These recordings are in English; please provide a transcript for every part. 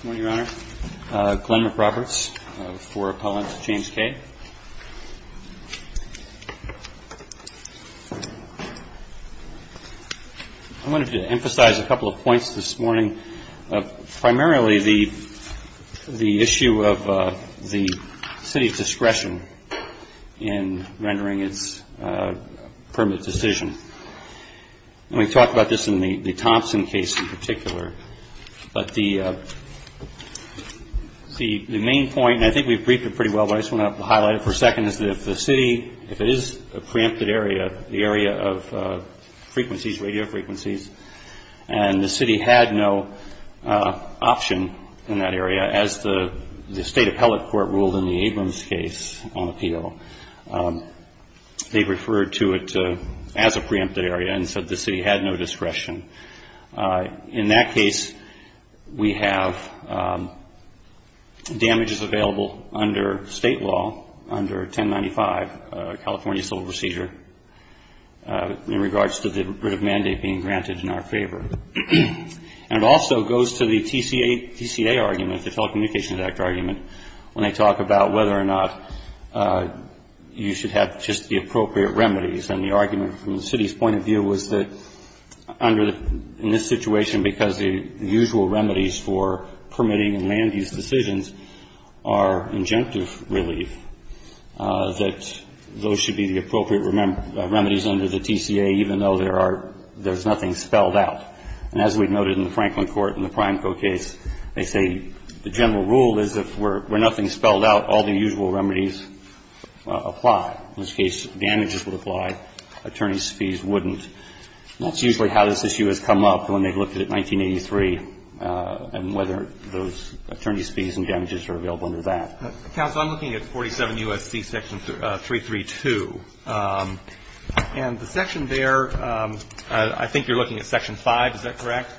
Good morning, Your Honor. Glenn McRoberts for Appellant James Kay. I wanted to emphasize a couple of points this morning, primarily the issue of the city's discretion in rendering its permit decision. And we talked about this in the Thompson case in particular. But the main point, and I think we've briefed it pretty well, but I just want to highlight it for a second, is that if the city, if it is a preempted area, the area of frequencies, radio frequencies, and the city had no option in that area, as the State Appellate Court ruled in the Abrams case on appeal, they referred to it as a preempted area. And so the city had no discretion. In that case, we have damages available under State law under 1095, California Civil Procedure, in regards to the writ of mandate being granted in our favor. And it also goes to the TCA argument, the Telecommunications Act argument, when they talk about whether or not you should have just the appropriate remedies. And the argument from the city's point of view was that under the – in this situation, because the usual remedies for permitting and land use decisions are injunctive relief, that those should be the appropriate remedies under the TCA, even though there are – there's nothing spelled out. And as we've noted in the Franklin Court and the Prime Co. case, they say the general rule is if we're – where nothing's spelled out, all the usual remedies apply. In this case, damages would apply, attorney's fees wouldn't. That's usually how this issue has come up when they've looked at it in 1983 and whether those attorney's fees and damages are available under that. Counsel, I'm looking at 47 U.S.C. Section 332. And the section there, I think you're looking at Section 5. Is that correct?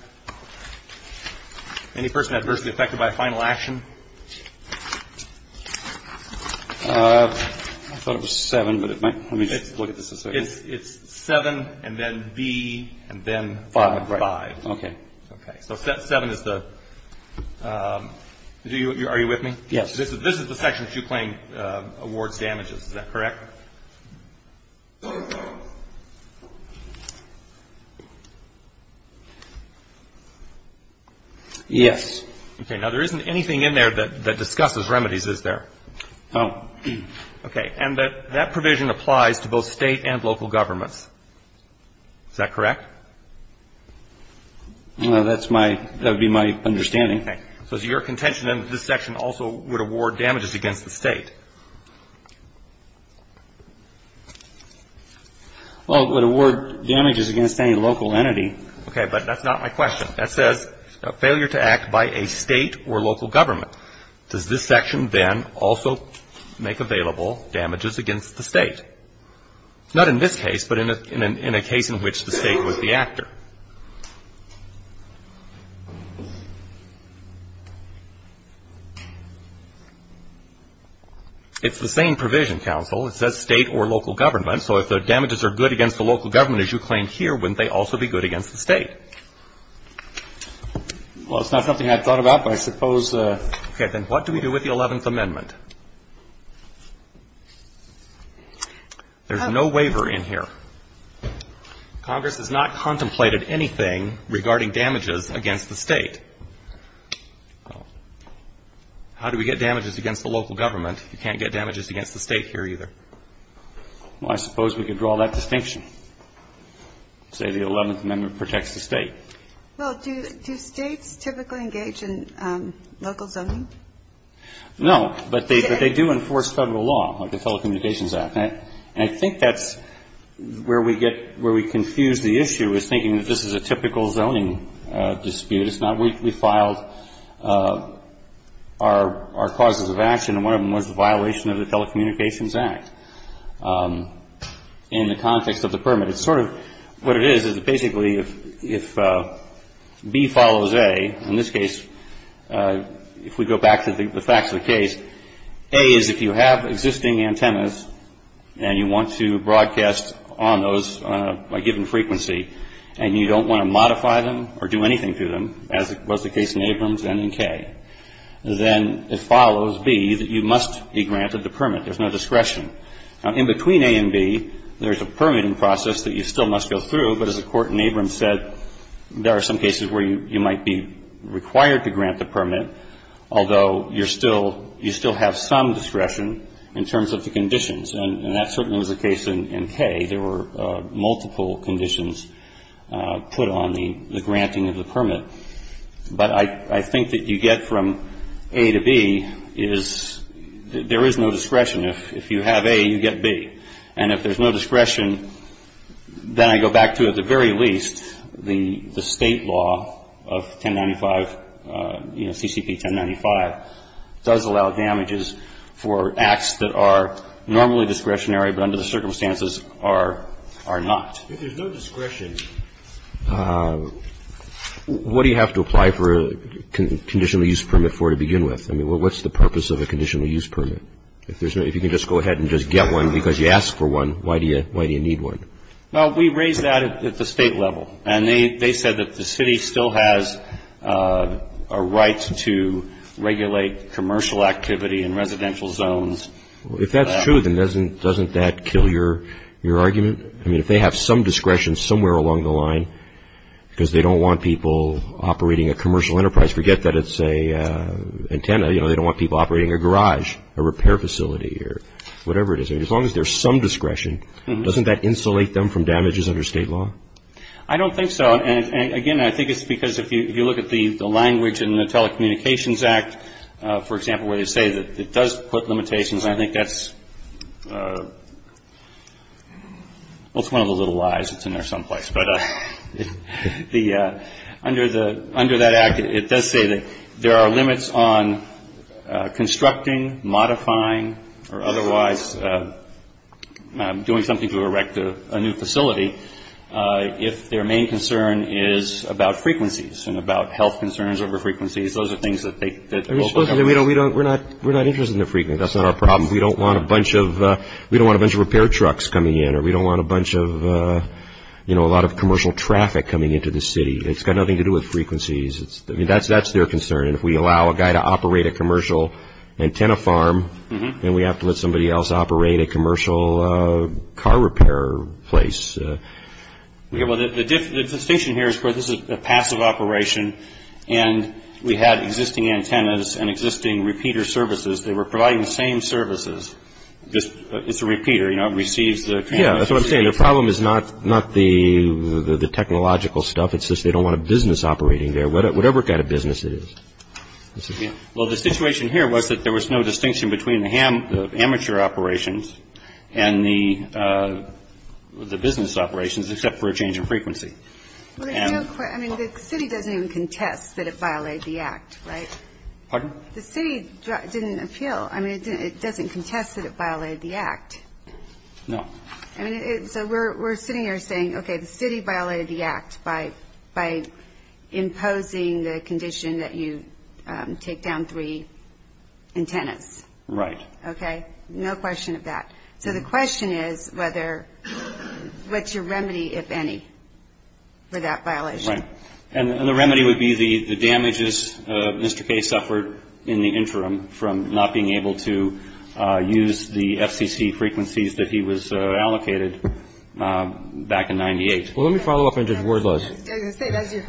Any person adversely affected by a final action? I thought it was 7, but it might – let me look at this a second. It's 7 and then B and then 5. Okay. Okay. So 7 is the – are you with me? This is the section that you claim awards damages. Is that correct? Yes. Okay. Now, there isn't anything in there that discusses remedies, is there? No. Okay. And that provision applies to both State and local governments. Is that correct? That's my – that would be my understanding. Okay. So is your contention then that this section also would award damages against the State? Well, it would award damages against any local entity. Okay. But that's not my question. That says failure to act by a State or local government. Does this section then also make available damages against the State? Not in this case, but in a case in which the State was the actor. It's the same provision, counsel. It says State or local government. So if the damages are good against the local government, as you claim here, wouldn't they also be good against the State? Well, it's not something I've thought about, but I suppose. Okay. Then what do we do with the Eleventh Amendment? There's no waiver in here. Congress has not contemplated anything regarding damages against the State. How do we get damages against the local government? You can't get damages against the State here either. Well, I suppose we could draw that distinction, say the Eleventh Amendment protects the State. Well, do States typically engage in local zoning? No. But they do enforce Federal law, like the Telecommunications Act. And I think that's where we confuse the issue, is thinking that this is a typical zoning dispute. It's not. We filed our causes of action, and one of them was the violation of the Telecommunications Act in the context of the permit. It's sort of what it is, is basically if B follows A, in this case, if we go back to the facts of the case, A is if you have existing antennas and you want to broadcast on those on a given frequency, and you don't want to modify them or do anything to them, as was the case in Abrams and in Kay, then it follows B that you must be granted the permit. There's no discretion. Now, in between A and B, there's a permitting process that you still must go through. But as the Court in Abrams said, there are some cases where you might be required to grant the permit, although you're still you still have some discretion in terms of the conditions. And that certainly was the case in Kay. There were multiple conditions put on the granting of the permit. But I think that you get from A to B is there is no discretion. If you have A, you get B. And if there's no discretion, then I go back to, at the very least, the State law of 1095, you know, CCP 1095, does allow damages for acts that are normally discretionary but under the circumstances are not. If there's no discretion, what do you have to apply for a conditional use permit for to begin with? I mean, what's the purpose of a conditional use permit? If you can just go ahead and just get one because you asked for one, why do you need one? Well, we raised that at the State level. And they said that the City still has a right to regulate commercial activity in residential zones. If that's true, then doesn't that kill your argument? I mean, if they have some discretion somewhere along the line because they don't want people operating a commercial enterprise, forget that it's an antenna. You know, they don't want people operating a garage, a repair facility, or whatever it is. As long as there's some discretion, doesn't that insulate them from damages under State law? I don't think so. And, again, I think it's because if you look at the language in the Telecommunications Act, for example, where they say that it does put limitations, and I think that's one of the little lies that's in there someplace. But under that Act, it does say that there are limits on constructing, modifying, or otherwise doing something to erect a new facility if their main concern is about frequencies and about health concerns over frequencies. We're not interested in the frequencies. That's not our problem. We don't want a bunch of repair trucks coming in, or we don't want a lot of commercial traffic coming into the City. It's got nothing to do with frequencies. I mean, that's their concern. And if we allow a guy to operate a commercial antenna farm, then we have to let somebody else operate a commercial car repair place. Well, the distinction here is, of course, this is a passive operation, and we had existing antennas and existing repeater services. They were providing the same services. It's a repeater. You know, it receives the transmission. Yeah, that's what I'm saying. The problem is not the technological stuff. It's just they don't want a business operating there, whatever kind of business it is. Well, the situation here was that there was no distinction between the amateur operations and the business operations except for a change in frequency. I mean, the City doesn't even contest that it violated the Act, right? Pardon? The City didn't appeal. I mean, it doesn't contest that it violated the Act. No. I mean, so we're sitting here saying, okay, the City violated the Act by imposing the condition that you take down three antennas. Right. Okay? No question of that. So the question is whether what's your remedy, if any, for that violation? Right. And the remedy would be the damages Mr. Kaye suffered in the interim from not being able to use the FCC frequencies that he was allocated back in 98. Well, let me follow up on Judge Wardlaw's. I was going to say that's your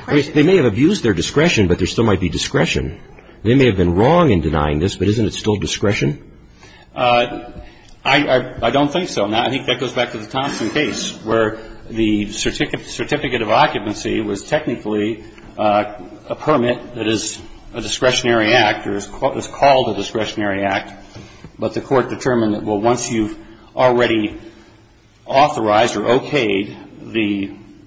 question. They may have abused their discretion, but there still might be discretion. They may have been wrong in denying this, but isn't it still discretion? I don't think so. I think that goes back to the Thompson case where the certificate of occupancy was technically a permit that is a discretionary act or is called a discretionary act. But the Court determined that, well, once you've already authorized or okayed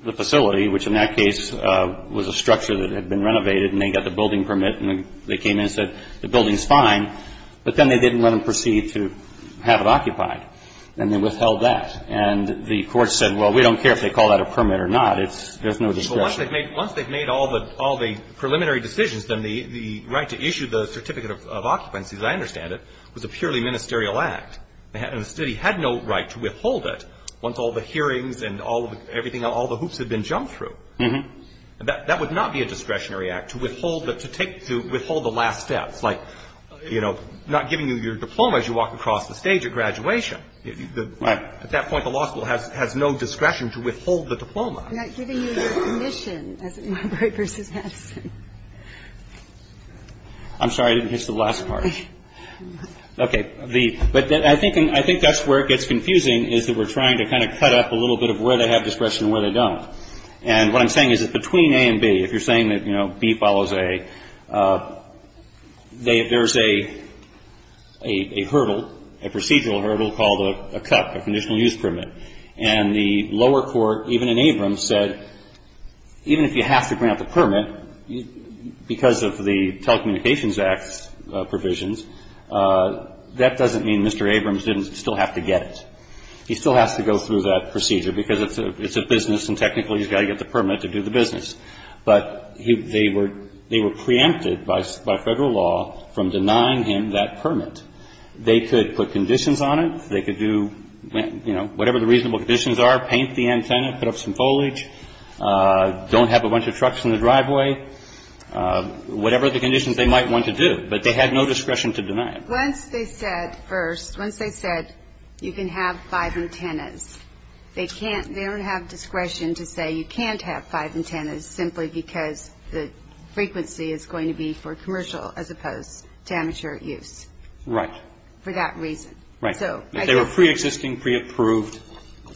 the facility, which in that case was a structure that had been renovated and they got the building permit and they came in and said the building's fine, but then they didn't let them proceed to have it occupied, and they withheld that. And the Court said, well, we don't care if they call that a permit or not. There's no discretion. Once they've made all the preliminary decisions, then the right to issue the certificate of occupancy, as I understand it, was a purely ministerial act. And the city had no right to withhold it once all the hearings and everything else, all the hoops had been jumped through. That would not be a discretionary act to withhold the last steps, like, you know, not giving you your diploma as you walk across the stage at graduation. At that point, the law school has no discretion to withhold the diploma. I'm sorry. I didn't catch the last part. Okay. But I think that's where it gets confusing is that we're trying to kind of cut up a little bit of where they have discretion and where they don't. And what I'm saying is that between A and B, if you're saying that, you know, B follows A, there's a hurdle, a procedural hurdle called a CUP, a conditional use permit. And the lower court, even in Abrams, said even if you have to grant the permit, because of the Telecommunications Act's provisions, that doesn't mean Mr. Abrams didn't still have to get it. He still has to go through that procedure because it's a business and technically he's got to get the permit to do the business. But they were preempted by Federal law from denying him that permit. They could put conditions on it. They could do, you know, whatever the reasonable conditions are, paint the antenna, put up some foliage, don't have a bunch of trucks in the driveway, whatever the conditions they might want to do. But they had no discretion to deny it. Once they said first, once they said you can have five antennas, they can't they don't have discretion to say you can't have five antennas simply because the frequency is going to be for commercial as opposed to amateur use. Right. For that reason. Right. They were preexisting, preapproved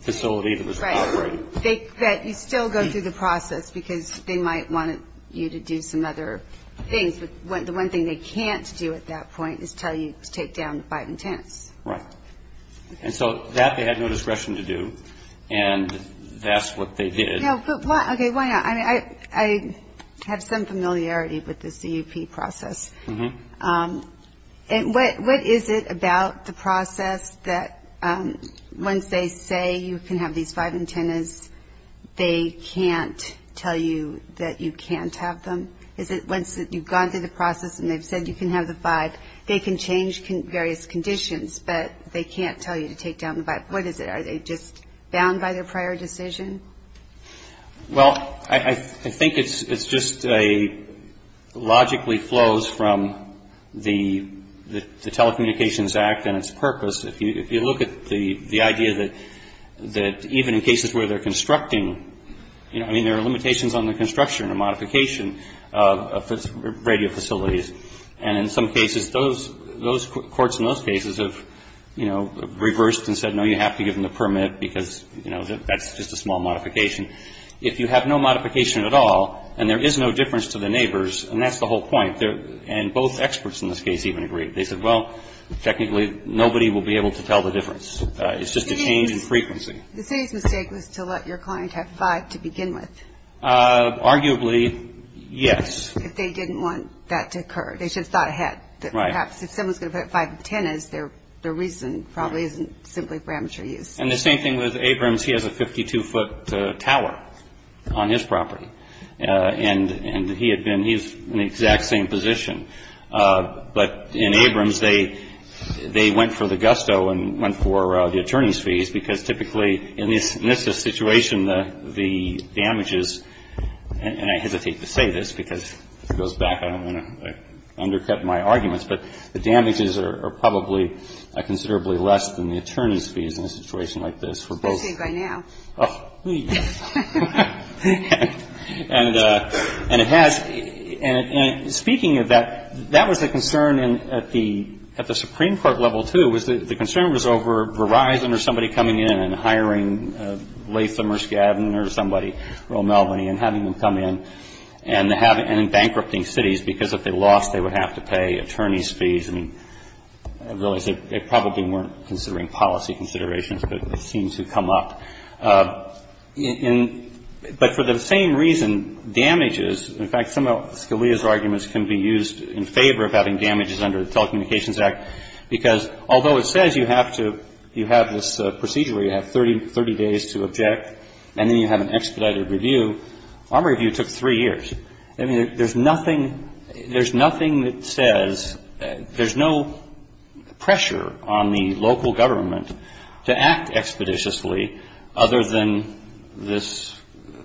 facility that was operating. Right. That you still go through the process because they might want you to do some other things. But the one thing they can't do at that point is tell you to take down five antennas. Right. And so that they had no discretion to do. And that's what they did. No, but why, okay, why not? I mean, I have some familiarity with the CUP process. And what is it about the process that once they say you can have these five antennas, they can't tell you that you can't have them? Is it once you've gone through the process and they've said you can have the five, they can change various conditions but they can't tell you to take down the five. What is it? Are they just bound by their prior decision? Well, I think it's just a logically flows from the Telecommunications Act and its purpose. If you look at the idea that even in cases where they're constructing, you know, I mean there are limitations on the construction or modification of radio facilities. And in some cases those courts in those cases have, you know, reversed and said, no, you have to give them the permit because, you know, that's just a small modification. If you have no modification at all and there is no difference to the neighbors, and that's the whole point, and both experts in this case even agreed. They said, well, technically nobody will be able to tell the difference. It's just a change in frequency. The city's mistake was to let your client have five to begin with. Arguably, yes. If they didn't want that to occur. They should have thought ahead. Right. The reason why I'm saying that, perhaps, if someone is going to put it at 510 is the reason probably isn't simply for amateur use. And the same thing with Abrams. He has a 52-foot tower on his property. And he had been he's in the exact same position. But in Abrams, they went for the gusto and went for the attorney's fees because typically in this situation, the damages and I hesitate to say this because if it goes back, I don't want to undercut my arguments. But the damages are probably considerably less than the attorney's fees in a situation like this for both. And it has. And speaking of that, that was a concern at the Supreme Court level, too, was the concern was over Verizon or somebody coming in and hiring Latham or Skadden or somebody from Melbourne and having them come in and bankrupting cities because if they lost, they would have to pay attorney's fees. And I realize they probably weren't considering policy considerations, but it seems to come up. But for the same reason, damages, in fact, some of Scalia's arguments can be used in favor of having damages under the Telecommunications Act because although it says you have to you have this procedure where you have 30 days to object and then you have an expedited review, our review took three years. I mean, there's nothing there's nothing that says there's no pressure on the local government to act expeditiously other than this,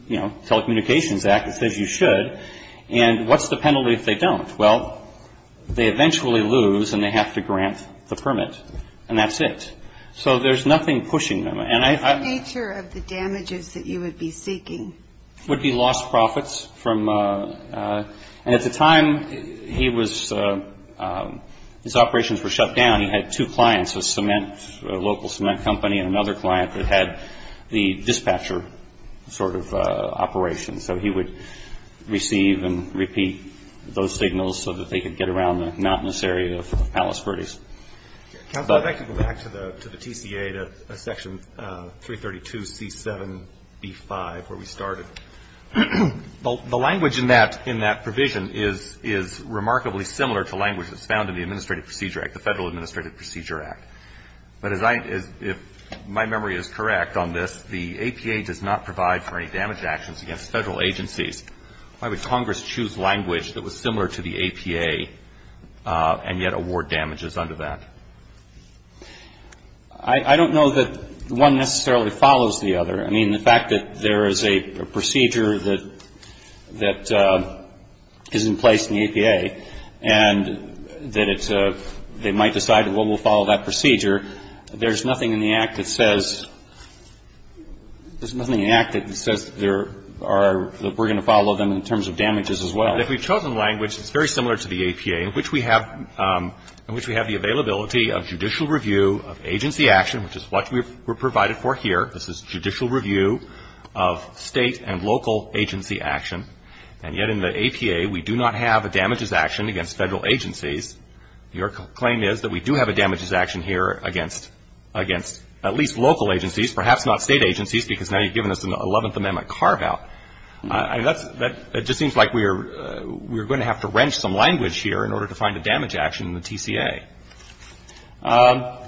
you know, Telecommunications Act that says you should. And what's the penalty if they don't? Well, they eventually lose and they have to grant the permit. And that's it. So there's nothing pushing them. And I. The nature of the damages that you would be seeking. Would be lost profits from and at the time he was his operations were shut down. He had two clients, a cement local cement company and another client that had the dispatcher sort of operation. So he would receive and repeat those signals so that they could get around the mountainous area of Palos Verdes. Back to the TCA to Section 332 C7B5 where we started. The language in that in that provision is is remarkably similar to language that's found in the Administrative Procedure Act, the Federal Administrative Procedure Act. But as I as if my memory is correct on this, the APA does not provide for any damage actions against Federal agencies. Why would Congress choose language that was similar to the APA and yet award damages under that? I don't know that one necessarily follows the other. I mean, the fact that there is a procedure that that is in place in the APA and that it's a they might decide what will follow that procedure. There's nothing in the act that says there's nothing in the act that says there are that we're going to follow them in terms of damages as well. If we've chosen language, it's very similar to the APA in which we have in which we have the availability of judicial review of agency action, which is what we were provided for here. This is judicial review of state and local agency action. And yet in the APA, we do not have a damages action against Federal agencies. Your claim is that we do have a damages action here against at least local agencies, perhaps not state agencies, because now you've given us an 11th Amendment carve out. I mean, that just seems like we're going to have to wrench some language here in order to find a damage action in the TCA. That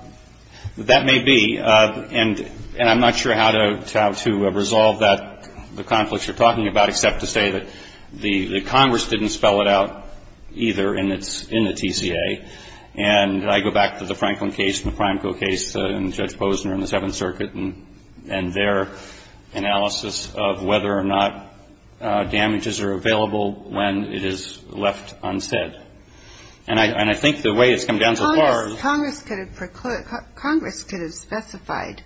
may be. And I'm not sure how to resolve that, the conflicts you're talking about, except to say that the Congress didn't spell it out either in the TCA. And I go back to the Franklin case and the Franco case and Judge Posner and the Seventh Circuit and their analysis of whether or not damages are available when it is left unsaid. And I think the way it's come down so far is that Congress could have specified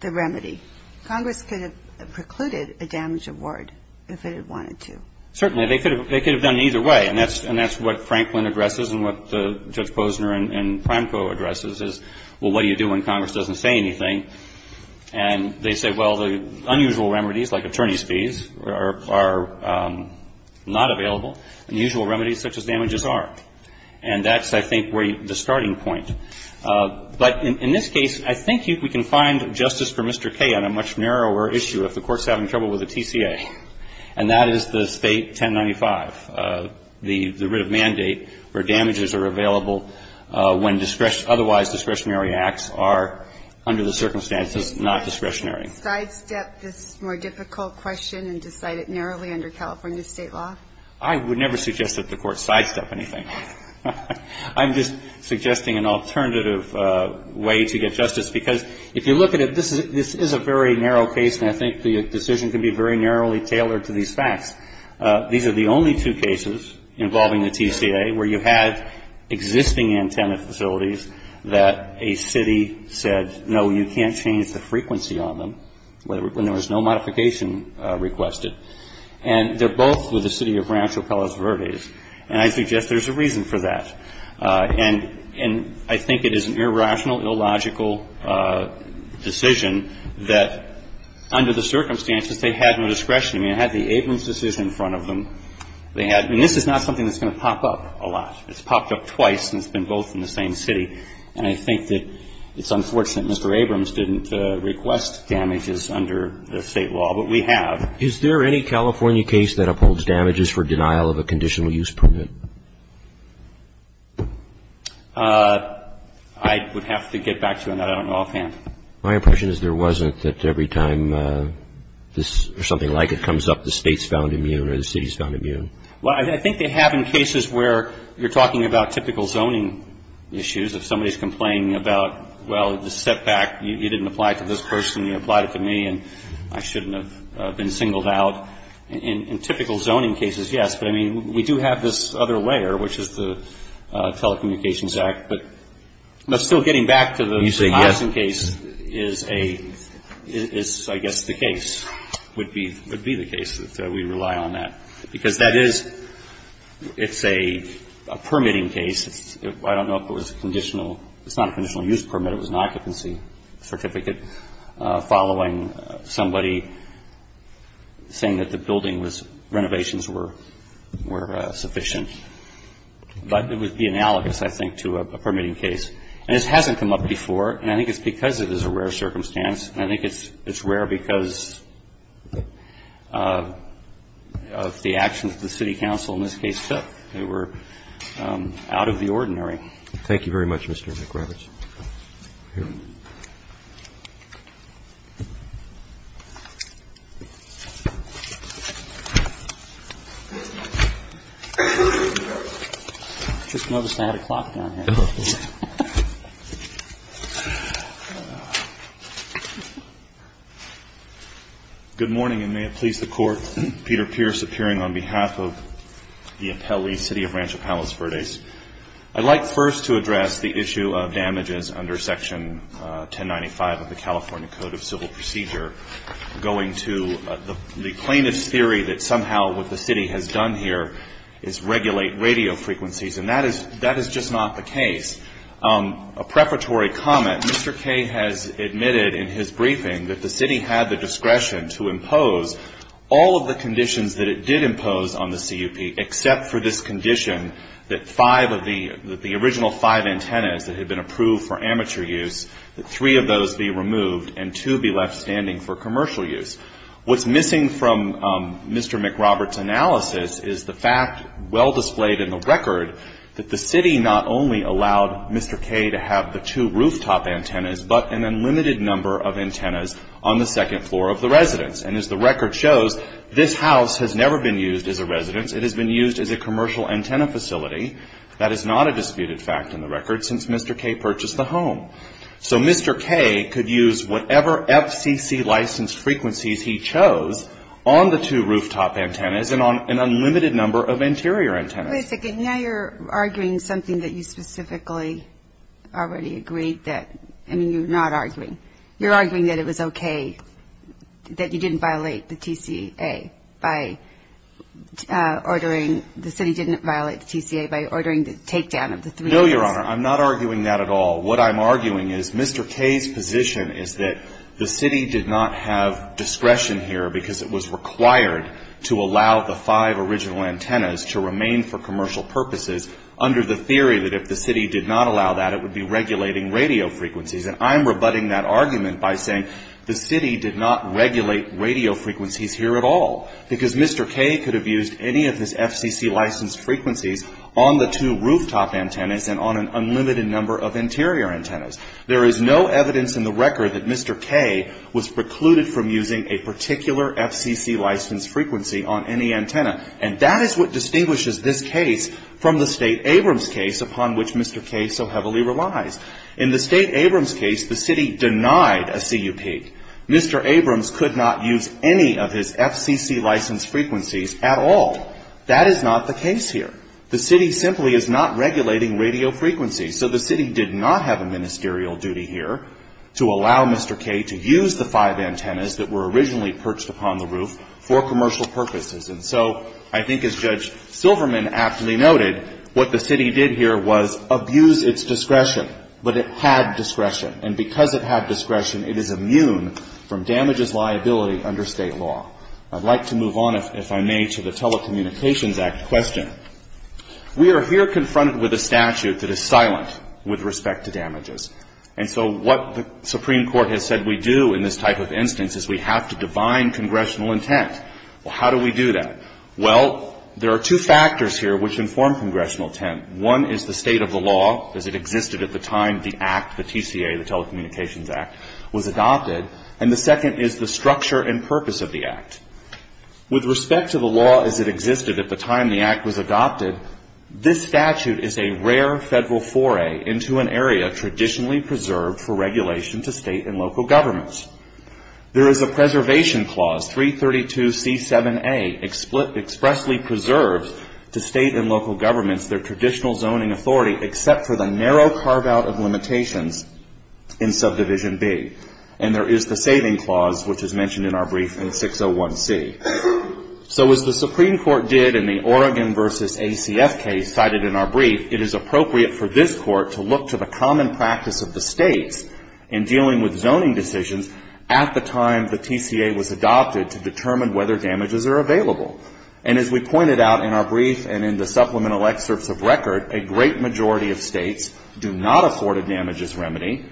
the remedy. Congress could have precluded a damage award if it had wanted to. Certainly. They could have done it either way. And that's what Franklin addresses and what Judge Posner and Franco addresses is, well, what do you do when Congress doesn't say anything? And they say, well, the unusual remedies, like attorney's fees, are not available, and usual remedies such as damages are. And that's, I think, the starting point. But in this case, I think we can find justice for Mr. Kaye on a much narrower issue if the Court's having trouble with the TCA. And that is the State 1095, the writ of mandate where damages are available when discretionary, otherwise discretionary acts are under the circumstances not discretionary. Can you sidestep this more difficult question and decide it narrowly under California State law? I would never suggest that the Court sidestep anything. I'm just suggesting an alternative way to get justice. Because if you look at it, this is a very narrow case, and I think the decision can be very narrowly tailored to these facts. These are the only two cases involving the TCA where you had existing antenna facilities that a city said, no, you can't change the frequency on them when there was no modification requested. And they're both with the City of Rancho Palos Verdes. And I suggest there's a reason for that. And I think it is an irrational, illogical decision that, under the circumstances, they had no discretion. I mean, they had the Abrams decision in front of them. They had ñ and this is not something that's going to pop up a lot. It's popped up twice, and it's been both in the same city. And I think that it's unfortunate Mr. Abrams didn't request damages under the State law, but we have. Is there any California case that upholds damages for denial of a conditional use permit? I would have to get back to you on that. I don't know offhand. My impression is there wasn't, that every time this or something like it comes up, the State's found immune or the City's found immune. Well, I think they have in cases where you're talking about typical zoning issues. If somebody's complaining about, well, the setback, you didn't apply it to this person, you applied it to me, and I shouldn't have been singled out. In typical zoning cases, yes. But, I mean, we do have this other layer, which is the Telecommunications Act. But still getting back to the Hobson case is a ñ is I guess the case, would be the case that we rely on that. Because that is ñ it's a permitting case. I don't know if it was conditional. It's not a conditional use permit. It was an occupancy certificate. Following somebody saying that the building was ñ renovations were sufficient. But it would be analogous, I think, to a permitting case. And this hasn't come up before. And I think it's because it is a rare circumstance. And I think it's rare because of the actions the City Council in this case took. They were out of the ordinary. Thank you very much, Mr. McRoberts. I just noticed I had a clock down here. Good morning, and may it please the Court. Peter Pierce appearing on behalf of the appellee, City of Rancho Palos Verdes. I'd like first to address the issue of damages under Section 1095 of the California Code of Civil Procedure going to the plaintiff's theory that somehow what the city has done here is regulate radio frequencies. And that is just not the case. A preparatory comment, Mr. Kaye has admitted in his briefing that the city had the discretion to impose all of the conditions that it did impose on the CUP, except for this condition that five of the original five antennas that had been approved for amateur use, that three of those be removed and two be left standing for commercial use. What's missing from Mr. McRoberts' analysis is the fact, well displayed in the record, that the city not only allowed Mr. Kaye to have the two rooftop antennas, but an unlimited number of antennas on the second floor of the residence. And as the record shows, this house has never been used as a residence. It has been used as a commercial antenna facility. That is not a disputed fact in the record since Mr. Kaye purchased the home. So Mr. Kaye could use whatever FCC-licensed frequencies he chose on the two rooftop antennas and on an unlimited number of interior antennas. Wait a second. Now you're arguing something that you specifically already agreed that, I mean, you're not arguing. You're arguing that it was okay that you didn't violate the TCA by ordering, the city didn't violate the TCA by ordering the takedown of the three antennas. No, Your Honor. I'm not arguing that at all. What I'm arguing is Mr. Kaye's position is that the city did not have discretion here because it was required to allow the five original antennas to remain for commercial purposes under the theory that if the city did not allow that, it would be regulating radio frequencies. And I'm rebutting that argument by saying the city did not regulate radio frequencies here at all because Mr. Kaye could have used any of his FCC-licensed frequencies on the two rooftop antennas and on an unlimited number of interior antennas. There is no evidence in the record that Mr. Kaye was precluded from using a particular FCC-licensed frequency on any antenna. And that is what distinguishes this case from the State Abrams case upon which Mr. Kaye so heavily relies. In the State Abrams case, the city denied a CUP. Mr. Abrams could not use any of his FCC-licensed frequencies at all. That is not the case here. The city simply is not regulating radio frequencies. So the city did not have a ministerial duty here to allow Mr. Kaye to use the five antennas that were originally perched upon the roof for commercial purposes. And so I think as Judge Silverman aptly noted, what the city did here was abuse its discretion, but it had discretion. And because it had discretion, it is immune from damages liability under State law. I'd like to move on, if I may, to the Telecommunications Act question. We are here confronted with a statute that is silent with respect to damages. And so what the Supreme Court has said we do in this type of instance is we have to divine congressional intent. Well, how do we do that? Well, there are two factors here which inform congressional intent. One is the state of the law as it existed at the time the act, the TCA, the Telecommunications Act, was adopted. And the second is the structure and purpose of the act. With respect to the law as it existed at the time the act was adopted, this statute is a rare Federal foray into an area traditionally preserved for regulation to State and local governments. There is a preservation clause, 332C7A, expressly preserves to State and local governments their traditional zoning authority except for the narrow carve-out of limitations in Subdivision B. And there is the saving clause which is mentioned in our brief in 601C. So as the Supreme Court did in the Oregon v. ACF case cited in our brief, it is appropriate for this Court to look to the common practice of the States in dealing with zoning decisions at the time the TCA was adopted to determine whether damages are available. And as we pointed out in our brief and in the supplemental excerpts of record, a great majority of States do not afford a damages remedy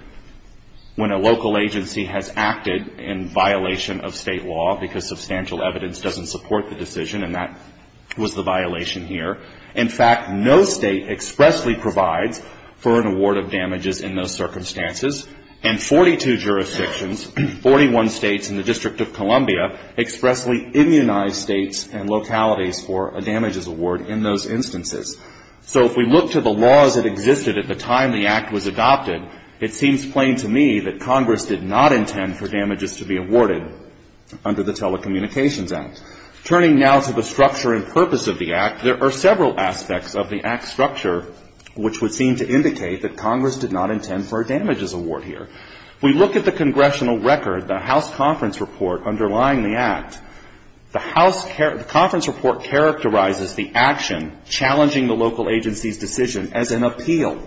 when a local agency has acted in violation of State law because substantial evidence doesn't support the decision. And that was the violation here. In fact, no State expressly provides for an award of damages in those circumstances. And 42 jurisdictions, 41 States and the District of Columbia expressly immunize States and localities for a damages award in those instances. So if we look to the laws that existed at the time the Act was adopted, it seems plain to me that Congress did not intend for damages to be awarded under the Telecommunications Act. Turning now to the structure and purpose of the Act, there are several aspects of the Act's structure which would seem to indicate that Congress did not intend for a damages award here. We look at the congressional record, the House conference report underlying the Act. The House conference report characterizes the action challenging the local agency's decision as an appeal,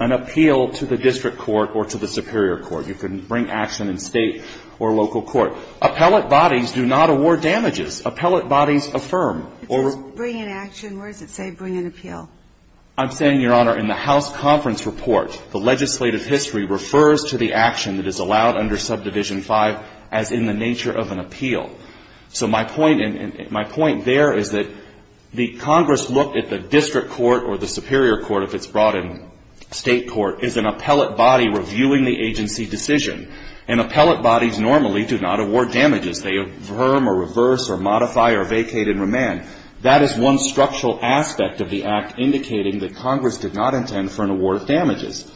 an appeal to the district court or to the superior court. You can bring action in State or local court. Appellate bodies do not award damages. Appellate bodies affirm. Or we're going to say bring an appeal. I'm saying, Your Honor, in the House conference report, the legislative history refers to the action that is allowed under Subdivision 5 as in the nature of an appeal. So my point there is that the Congress looked at the district court or the superior court, if it's brought in State court, is an appellate body reviewing the agency decision. And appellate bodies normally do not award damages. They affirm or reverse or modify or vacate and remand. That is one structural aspect of the Act indicating that Congress did not intend for an award of damages.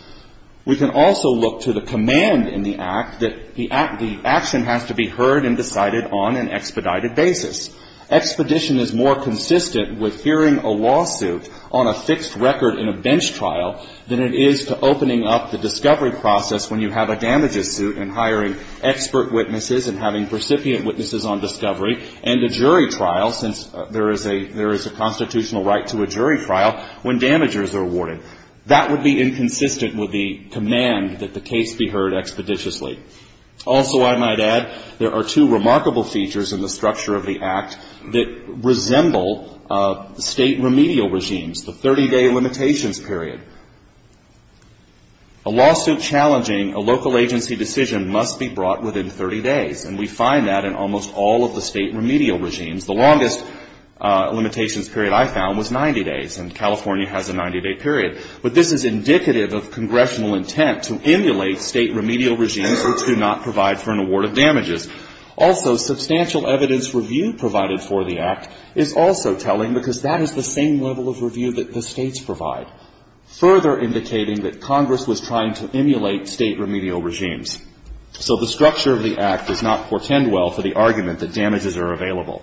We can also look to the command in the Act that the action has to be heard and decided on an expedited basis. Expedition is more consistent with hearing a lawsuit on a fixed record in a bench trial than it is to opening up the discovery process when you have a damages suit and hiring expert witnesses and having recipient witnesses on discovery and a jury trial, since there is a constitutional right to a jury trial when damages are awarded. That would be inconsistent with the command that the case be heard expeditiously. Also, I might add, there are two remarkable features in the structure of the Act that resemble State remedial regimes, the 30-day limitations period. A lawsuit challenging a local agency decision must be brought within 30 days, and we find that in almost all of the State remedial regimes. The longest limitations period I found was 90 days, and California has a 90-day limitation period. But this is indicative of congressional intent to emulate State remedial regimes which do not provide for an award of damages. Also, substantial evidence review provided for the Act is also telling because that is the same level of review that the States provide, further indicating that Congress was trying to emulate State remedial regimes. So the structure of the Act does not portend well for the argument that damages are available.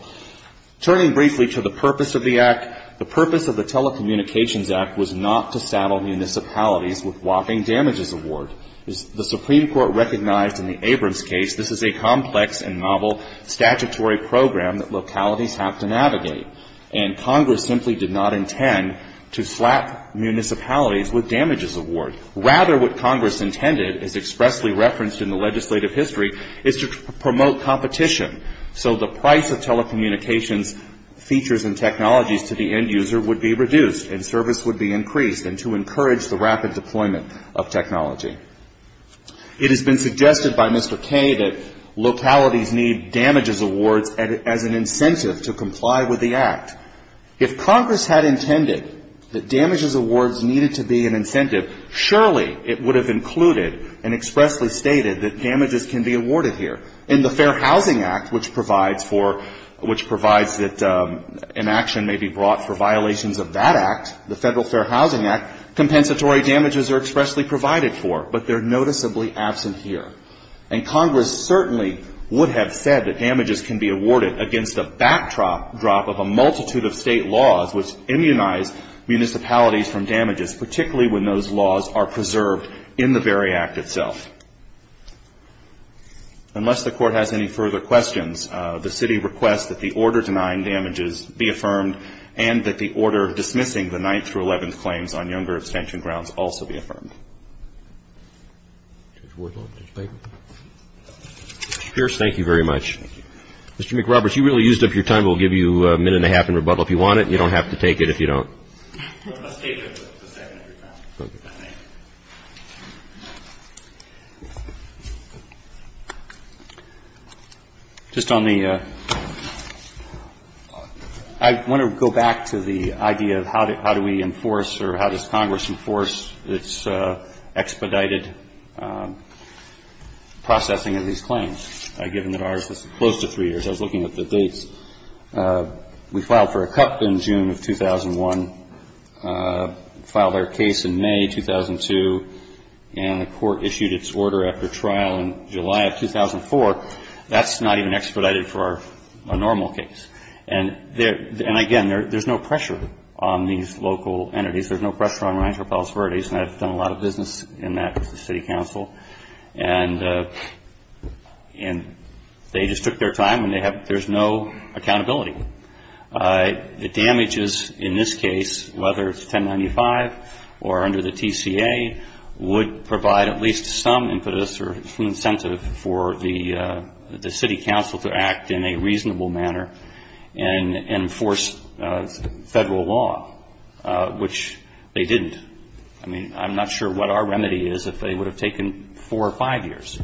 Turning briefly to the purpose of the Act, the purpose of the Telecommunications Act was not to saddle municipalities with walking damages award. The Supreme Court recognized in the Abrams case this is a complex and novel statutory program that localities have to navigate. And Congress simply did not intend to slap municipalities with damages award. Rather, what Congress intended is expressly referenced in the legislative history, is to promote competition. So the price of telecommunications features and technologies to the end user would be reduced, and service would be increased, and to encourage the rapid deployment of technology. It has been suggested by Mr. Kaye that localities need damages awards as an incentive to comply with the Act. If Congress had intended that damages awards needed to be an incentive, surely it would have included and expressly stated that damages can be awarded here. In the Fair Housing Act, which provides for, which provides that an action may be compensatory damages are expressly provided for, but they are noticeably absent here. And Congress certainly would have said that damages can be awarded against a backdrop of a multitude of state laws which immunize municipalities from damages, particularly when those laws are preserved in the very Act itself. Unless the Court has any further questions, the City requests that the order dismissing the 9th through 11th claims on younger abstention grounds also be affirmed. Mr. Pierce, thank you very much. Mr. McRoberts, you really used up your time. We'll give you a minute and a half in rebuttal if you want it, and you don't have to take it if you don't. Just on the, I want to go back to the ID. The ID of how do we enforce or how does Congress enforce its expedited processing of these claims, given that ours is close to three years? I was looking at the dates. We filed for a cup in June of 2001, filed our case in May 2002, and the Court issued its order after trial in July of 2004. That's not even expedited for a normal case. And, again, there's no pressure on these local entities. There's no pressure on Rancho Palos Verdes, and I've done a lot of business in that with the City Council. And they just took their time, and there's no accountability. The damages in this case, whether it's 1095 or under the TCA, would provide at least some impetus or some incentive for the City Council to act in a reasonable manner and enforce federal law, which they didn't. I mean, I'm not sure what our remedy is if they would have taken four or five years,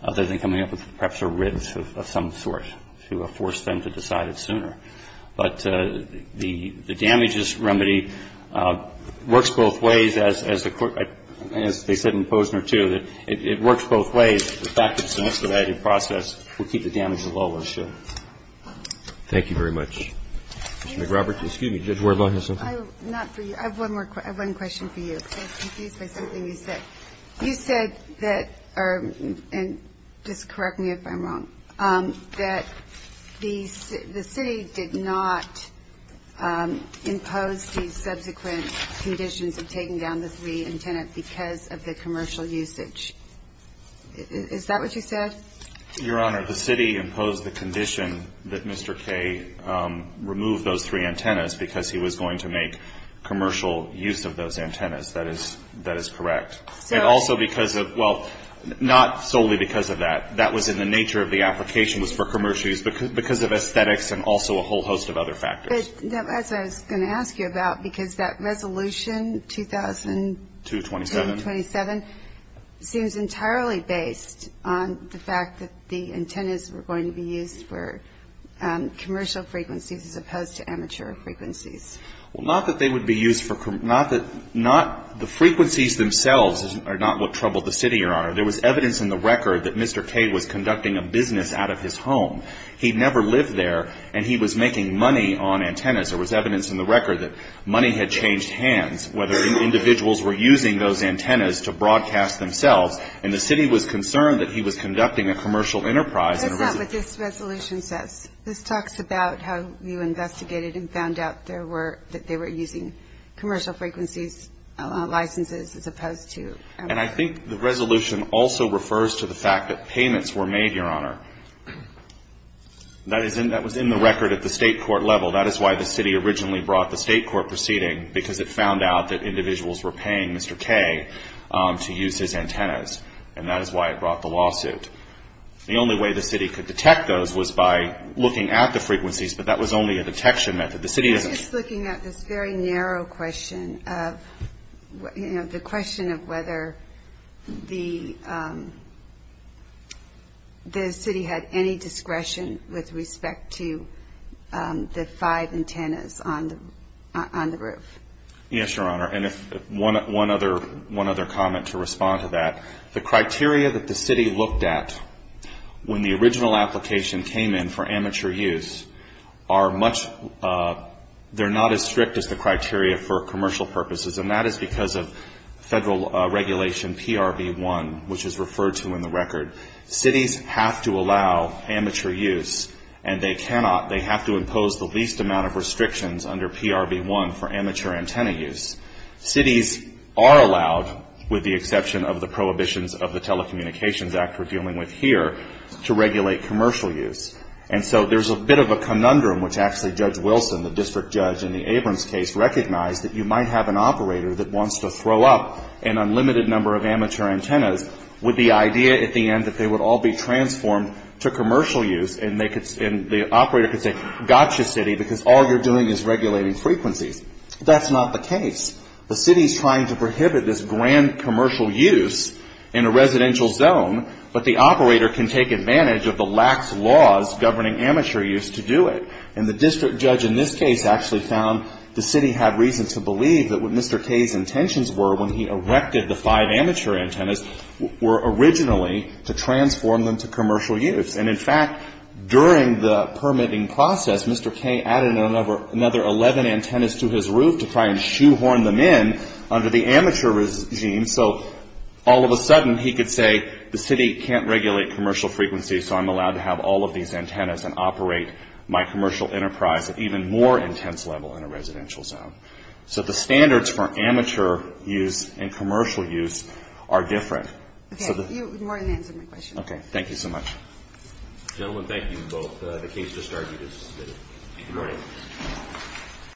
other than coming up with perhaps a writ of some sort to force them to decide it sooner. But the damages remedy works both ways, as they said in Posner, too. It works both ways. In fact, it's an expedited process. We'll keep the damages lower, sure. Thank you very much. Ms. McRobert, excuse me. Did you have a word on this? Not for you. I have one question for you. I was confused by something you said. You said that, and just correct me if I'm wrong, that the city did not impose these subsequent conditions of taking down the three antennas because of the commercial usage. Is that what you said? Your Honor, the city imposed the condition that Mr. Kaye remove those three antennas because he was going to make commercial use of those antennas. That is correct. And also because of, well, not solely because of that. That was in the nature of the application was for commercial use because of aesthetics and also a whole host of other factors. That's what I was going to ask you about, because that resolution, 2000- 227. 227, seems entirely based on the fact that the antennas were going to be used for commercial frequencies as opposed to amateur frequencies. Well, not that they would be used for, not the frequencies themselves are not what troubled the city, Your Honor. There was evidence in the record that Mr. Kaye was conducting a business out of his home. He never lived there, and he was making money on antennas. There was evidence in the record that money had changed hands, whether individuals were using those antennas to broadcast themselves, and the city was concerned that he was conducting a commercial enterprise. That's not what this resolution says. This talks about how you investigated and found out there were, that they were using commercial frequencies licenses as opposed to- And I think the resolution also refers to the fact that payments were made, Your Honor. That was in the record at the state court level. That is why the city originally brought the state court proceeding, because it found out that individuals were paying Mr. Kaye to use his antennas, and that is why it brought the lawsuit. The only way the city could detect those was by looking at the frequencies, but that was only a detection method. The city doesn't- I was just looking at this very narrow question of, you know, the question of whether the city had any discretion with respect to the five antennas on the roof. Yes, Your Honor, and one other comment to respond to that. The criteria that the city looked at when the original application came in for amateur use are much- they're not as strict as the criteria for commercial purposes, and that is because of federal regulation PRV-1, which is referred to in the record. Cities have to allow amateur use, and they cannot- they have to impose the least amount of restrictions under PRV-1 for amateur antenna use. Cities are allowed, with the exception of the prohibitions of the Telecommunications Act we're dealing with here, to regulate commercial use, and so there's a bit of a conundrum, which actually Judge Wilson, the district judge in the Abrams case, recognized that you might have an operator that wants to throw up an unlimited number of amateur antennas with the idea at the end that they would all be transformed to commercial use, and the operator could say, gotcha, city, because all you're doing is regulating frequencies. That's not the case. The city's trying to prohibit this grand commercial use in a residential zone, but the operator can take advantage of the lax laws governing amateur use to do it, and the district judge in this case actually found the city had reason to believe that what Mr. Kay's intentions were when he erected the five amateur antennas were originally to transform them to commercial use, and in fact, during the permitting process, Mr. Kay added another 11 antennas to his roof to try and shoehorn them in under the amateur regime, so all of a sudden he could say the city can't regulate commercial frequencies, so I'm allowed to have all of these antennas and operate my commercial enterprise at even more intense level in a residential zone. So the standards for amateur use and commercial use are different. Okay. You more than answered my question. Okay. Thank you so much. Gentlemen, thank you both. The case just argued is submitted. Good morning.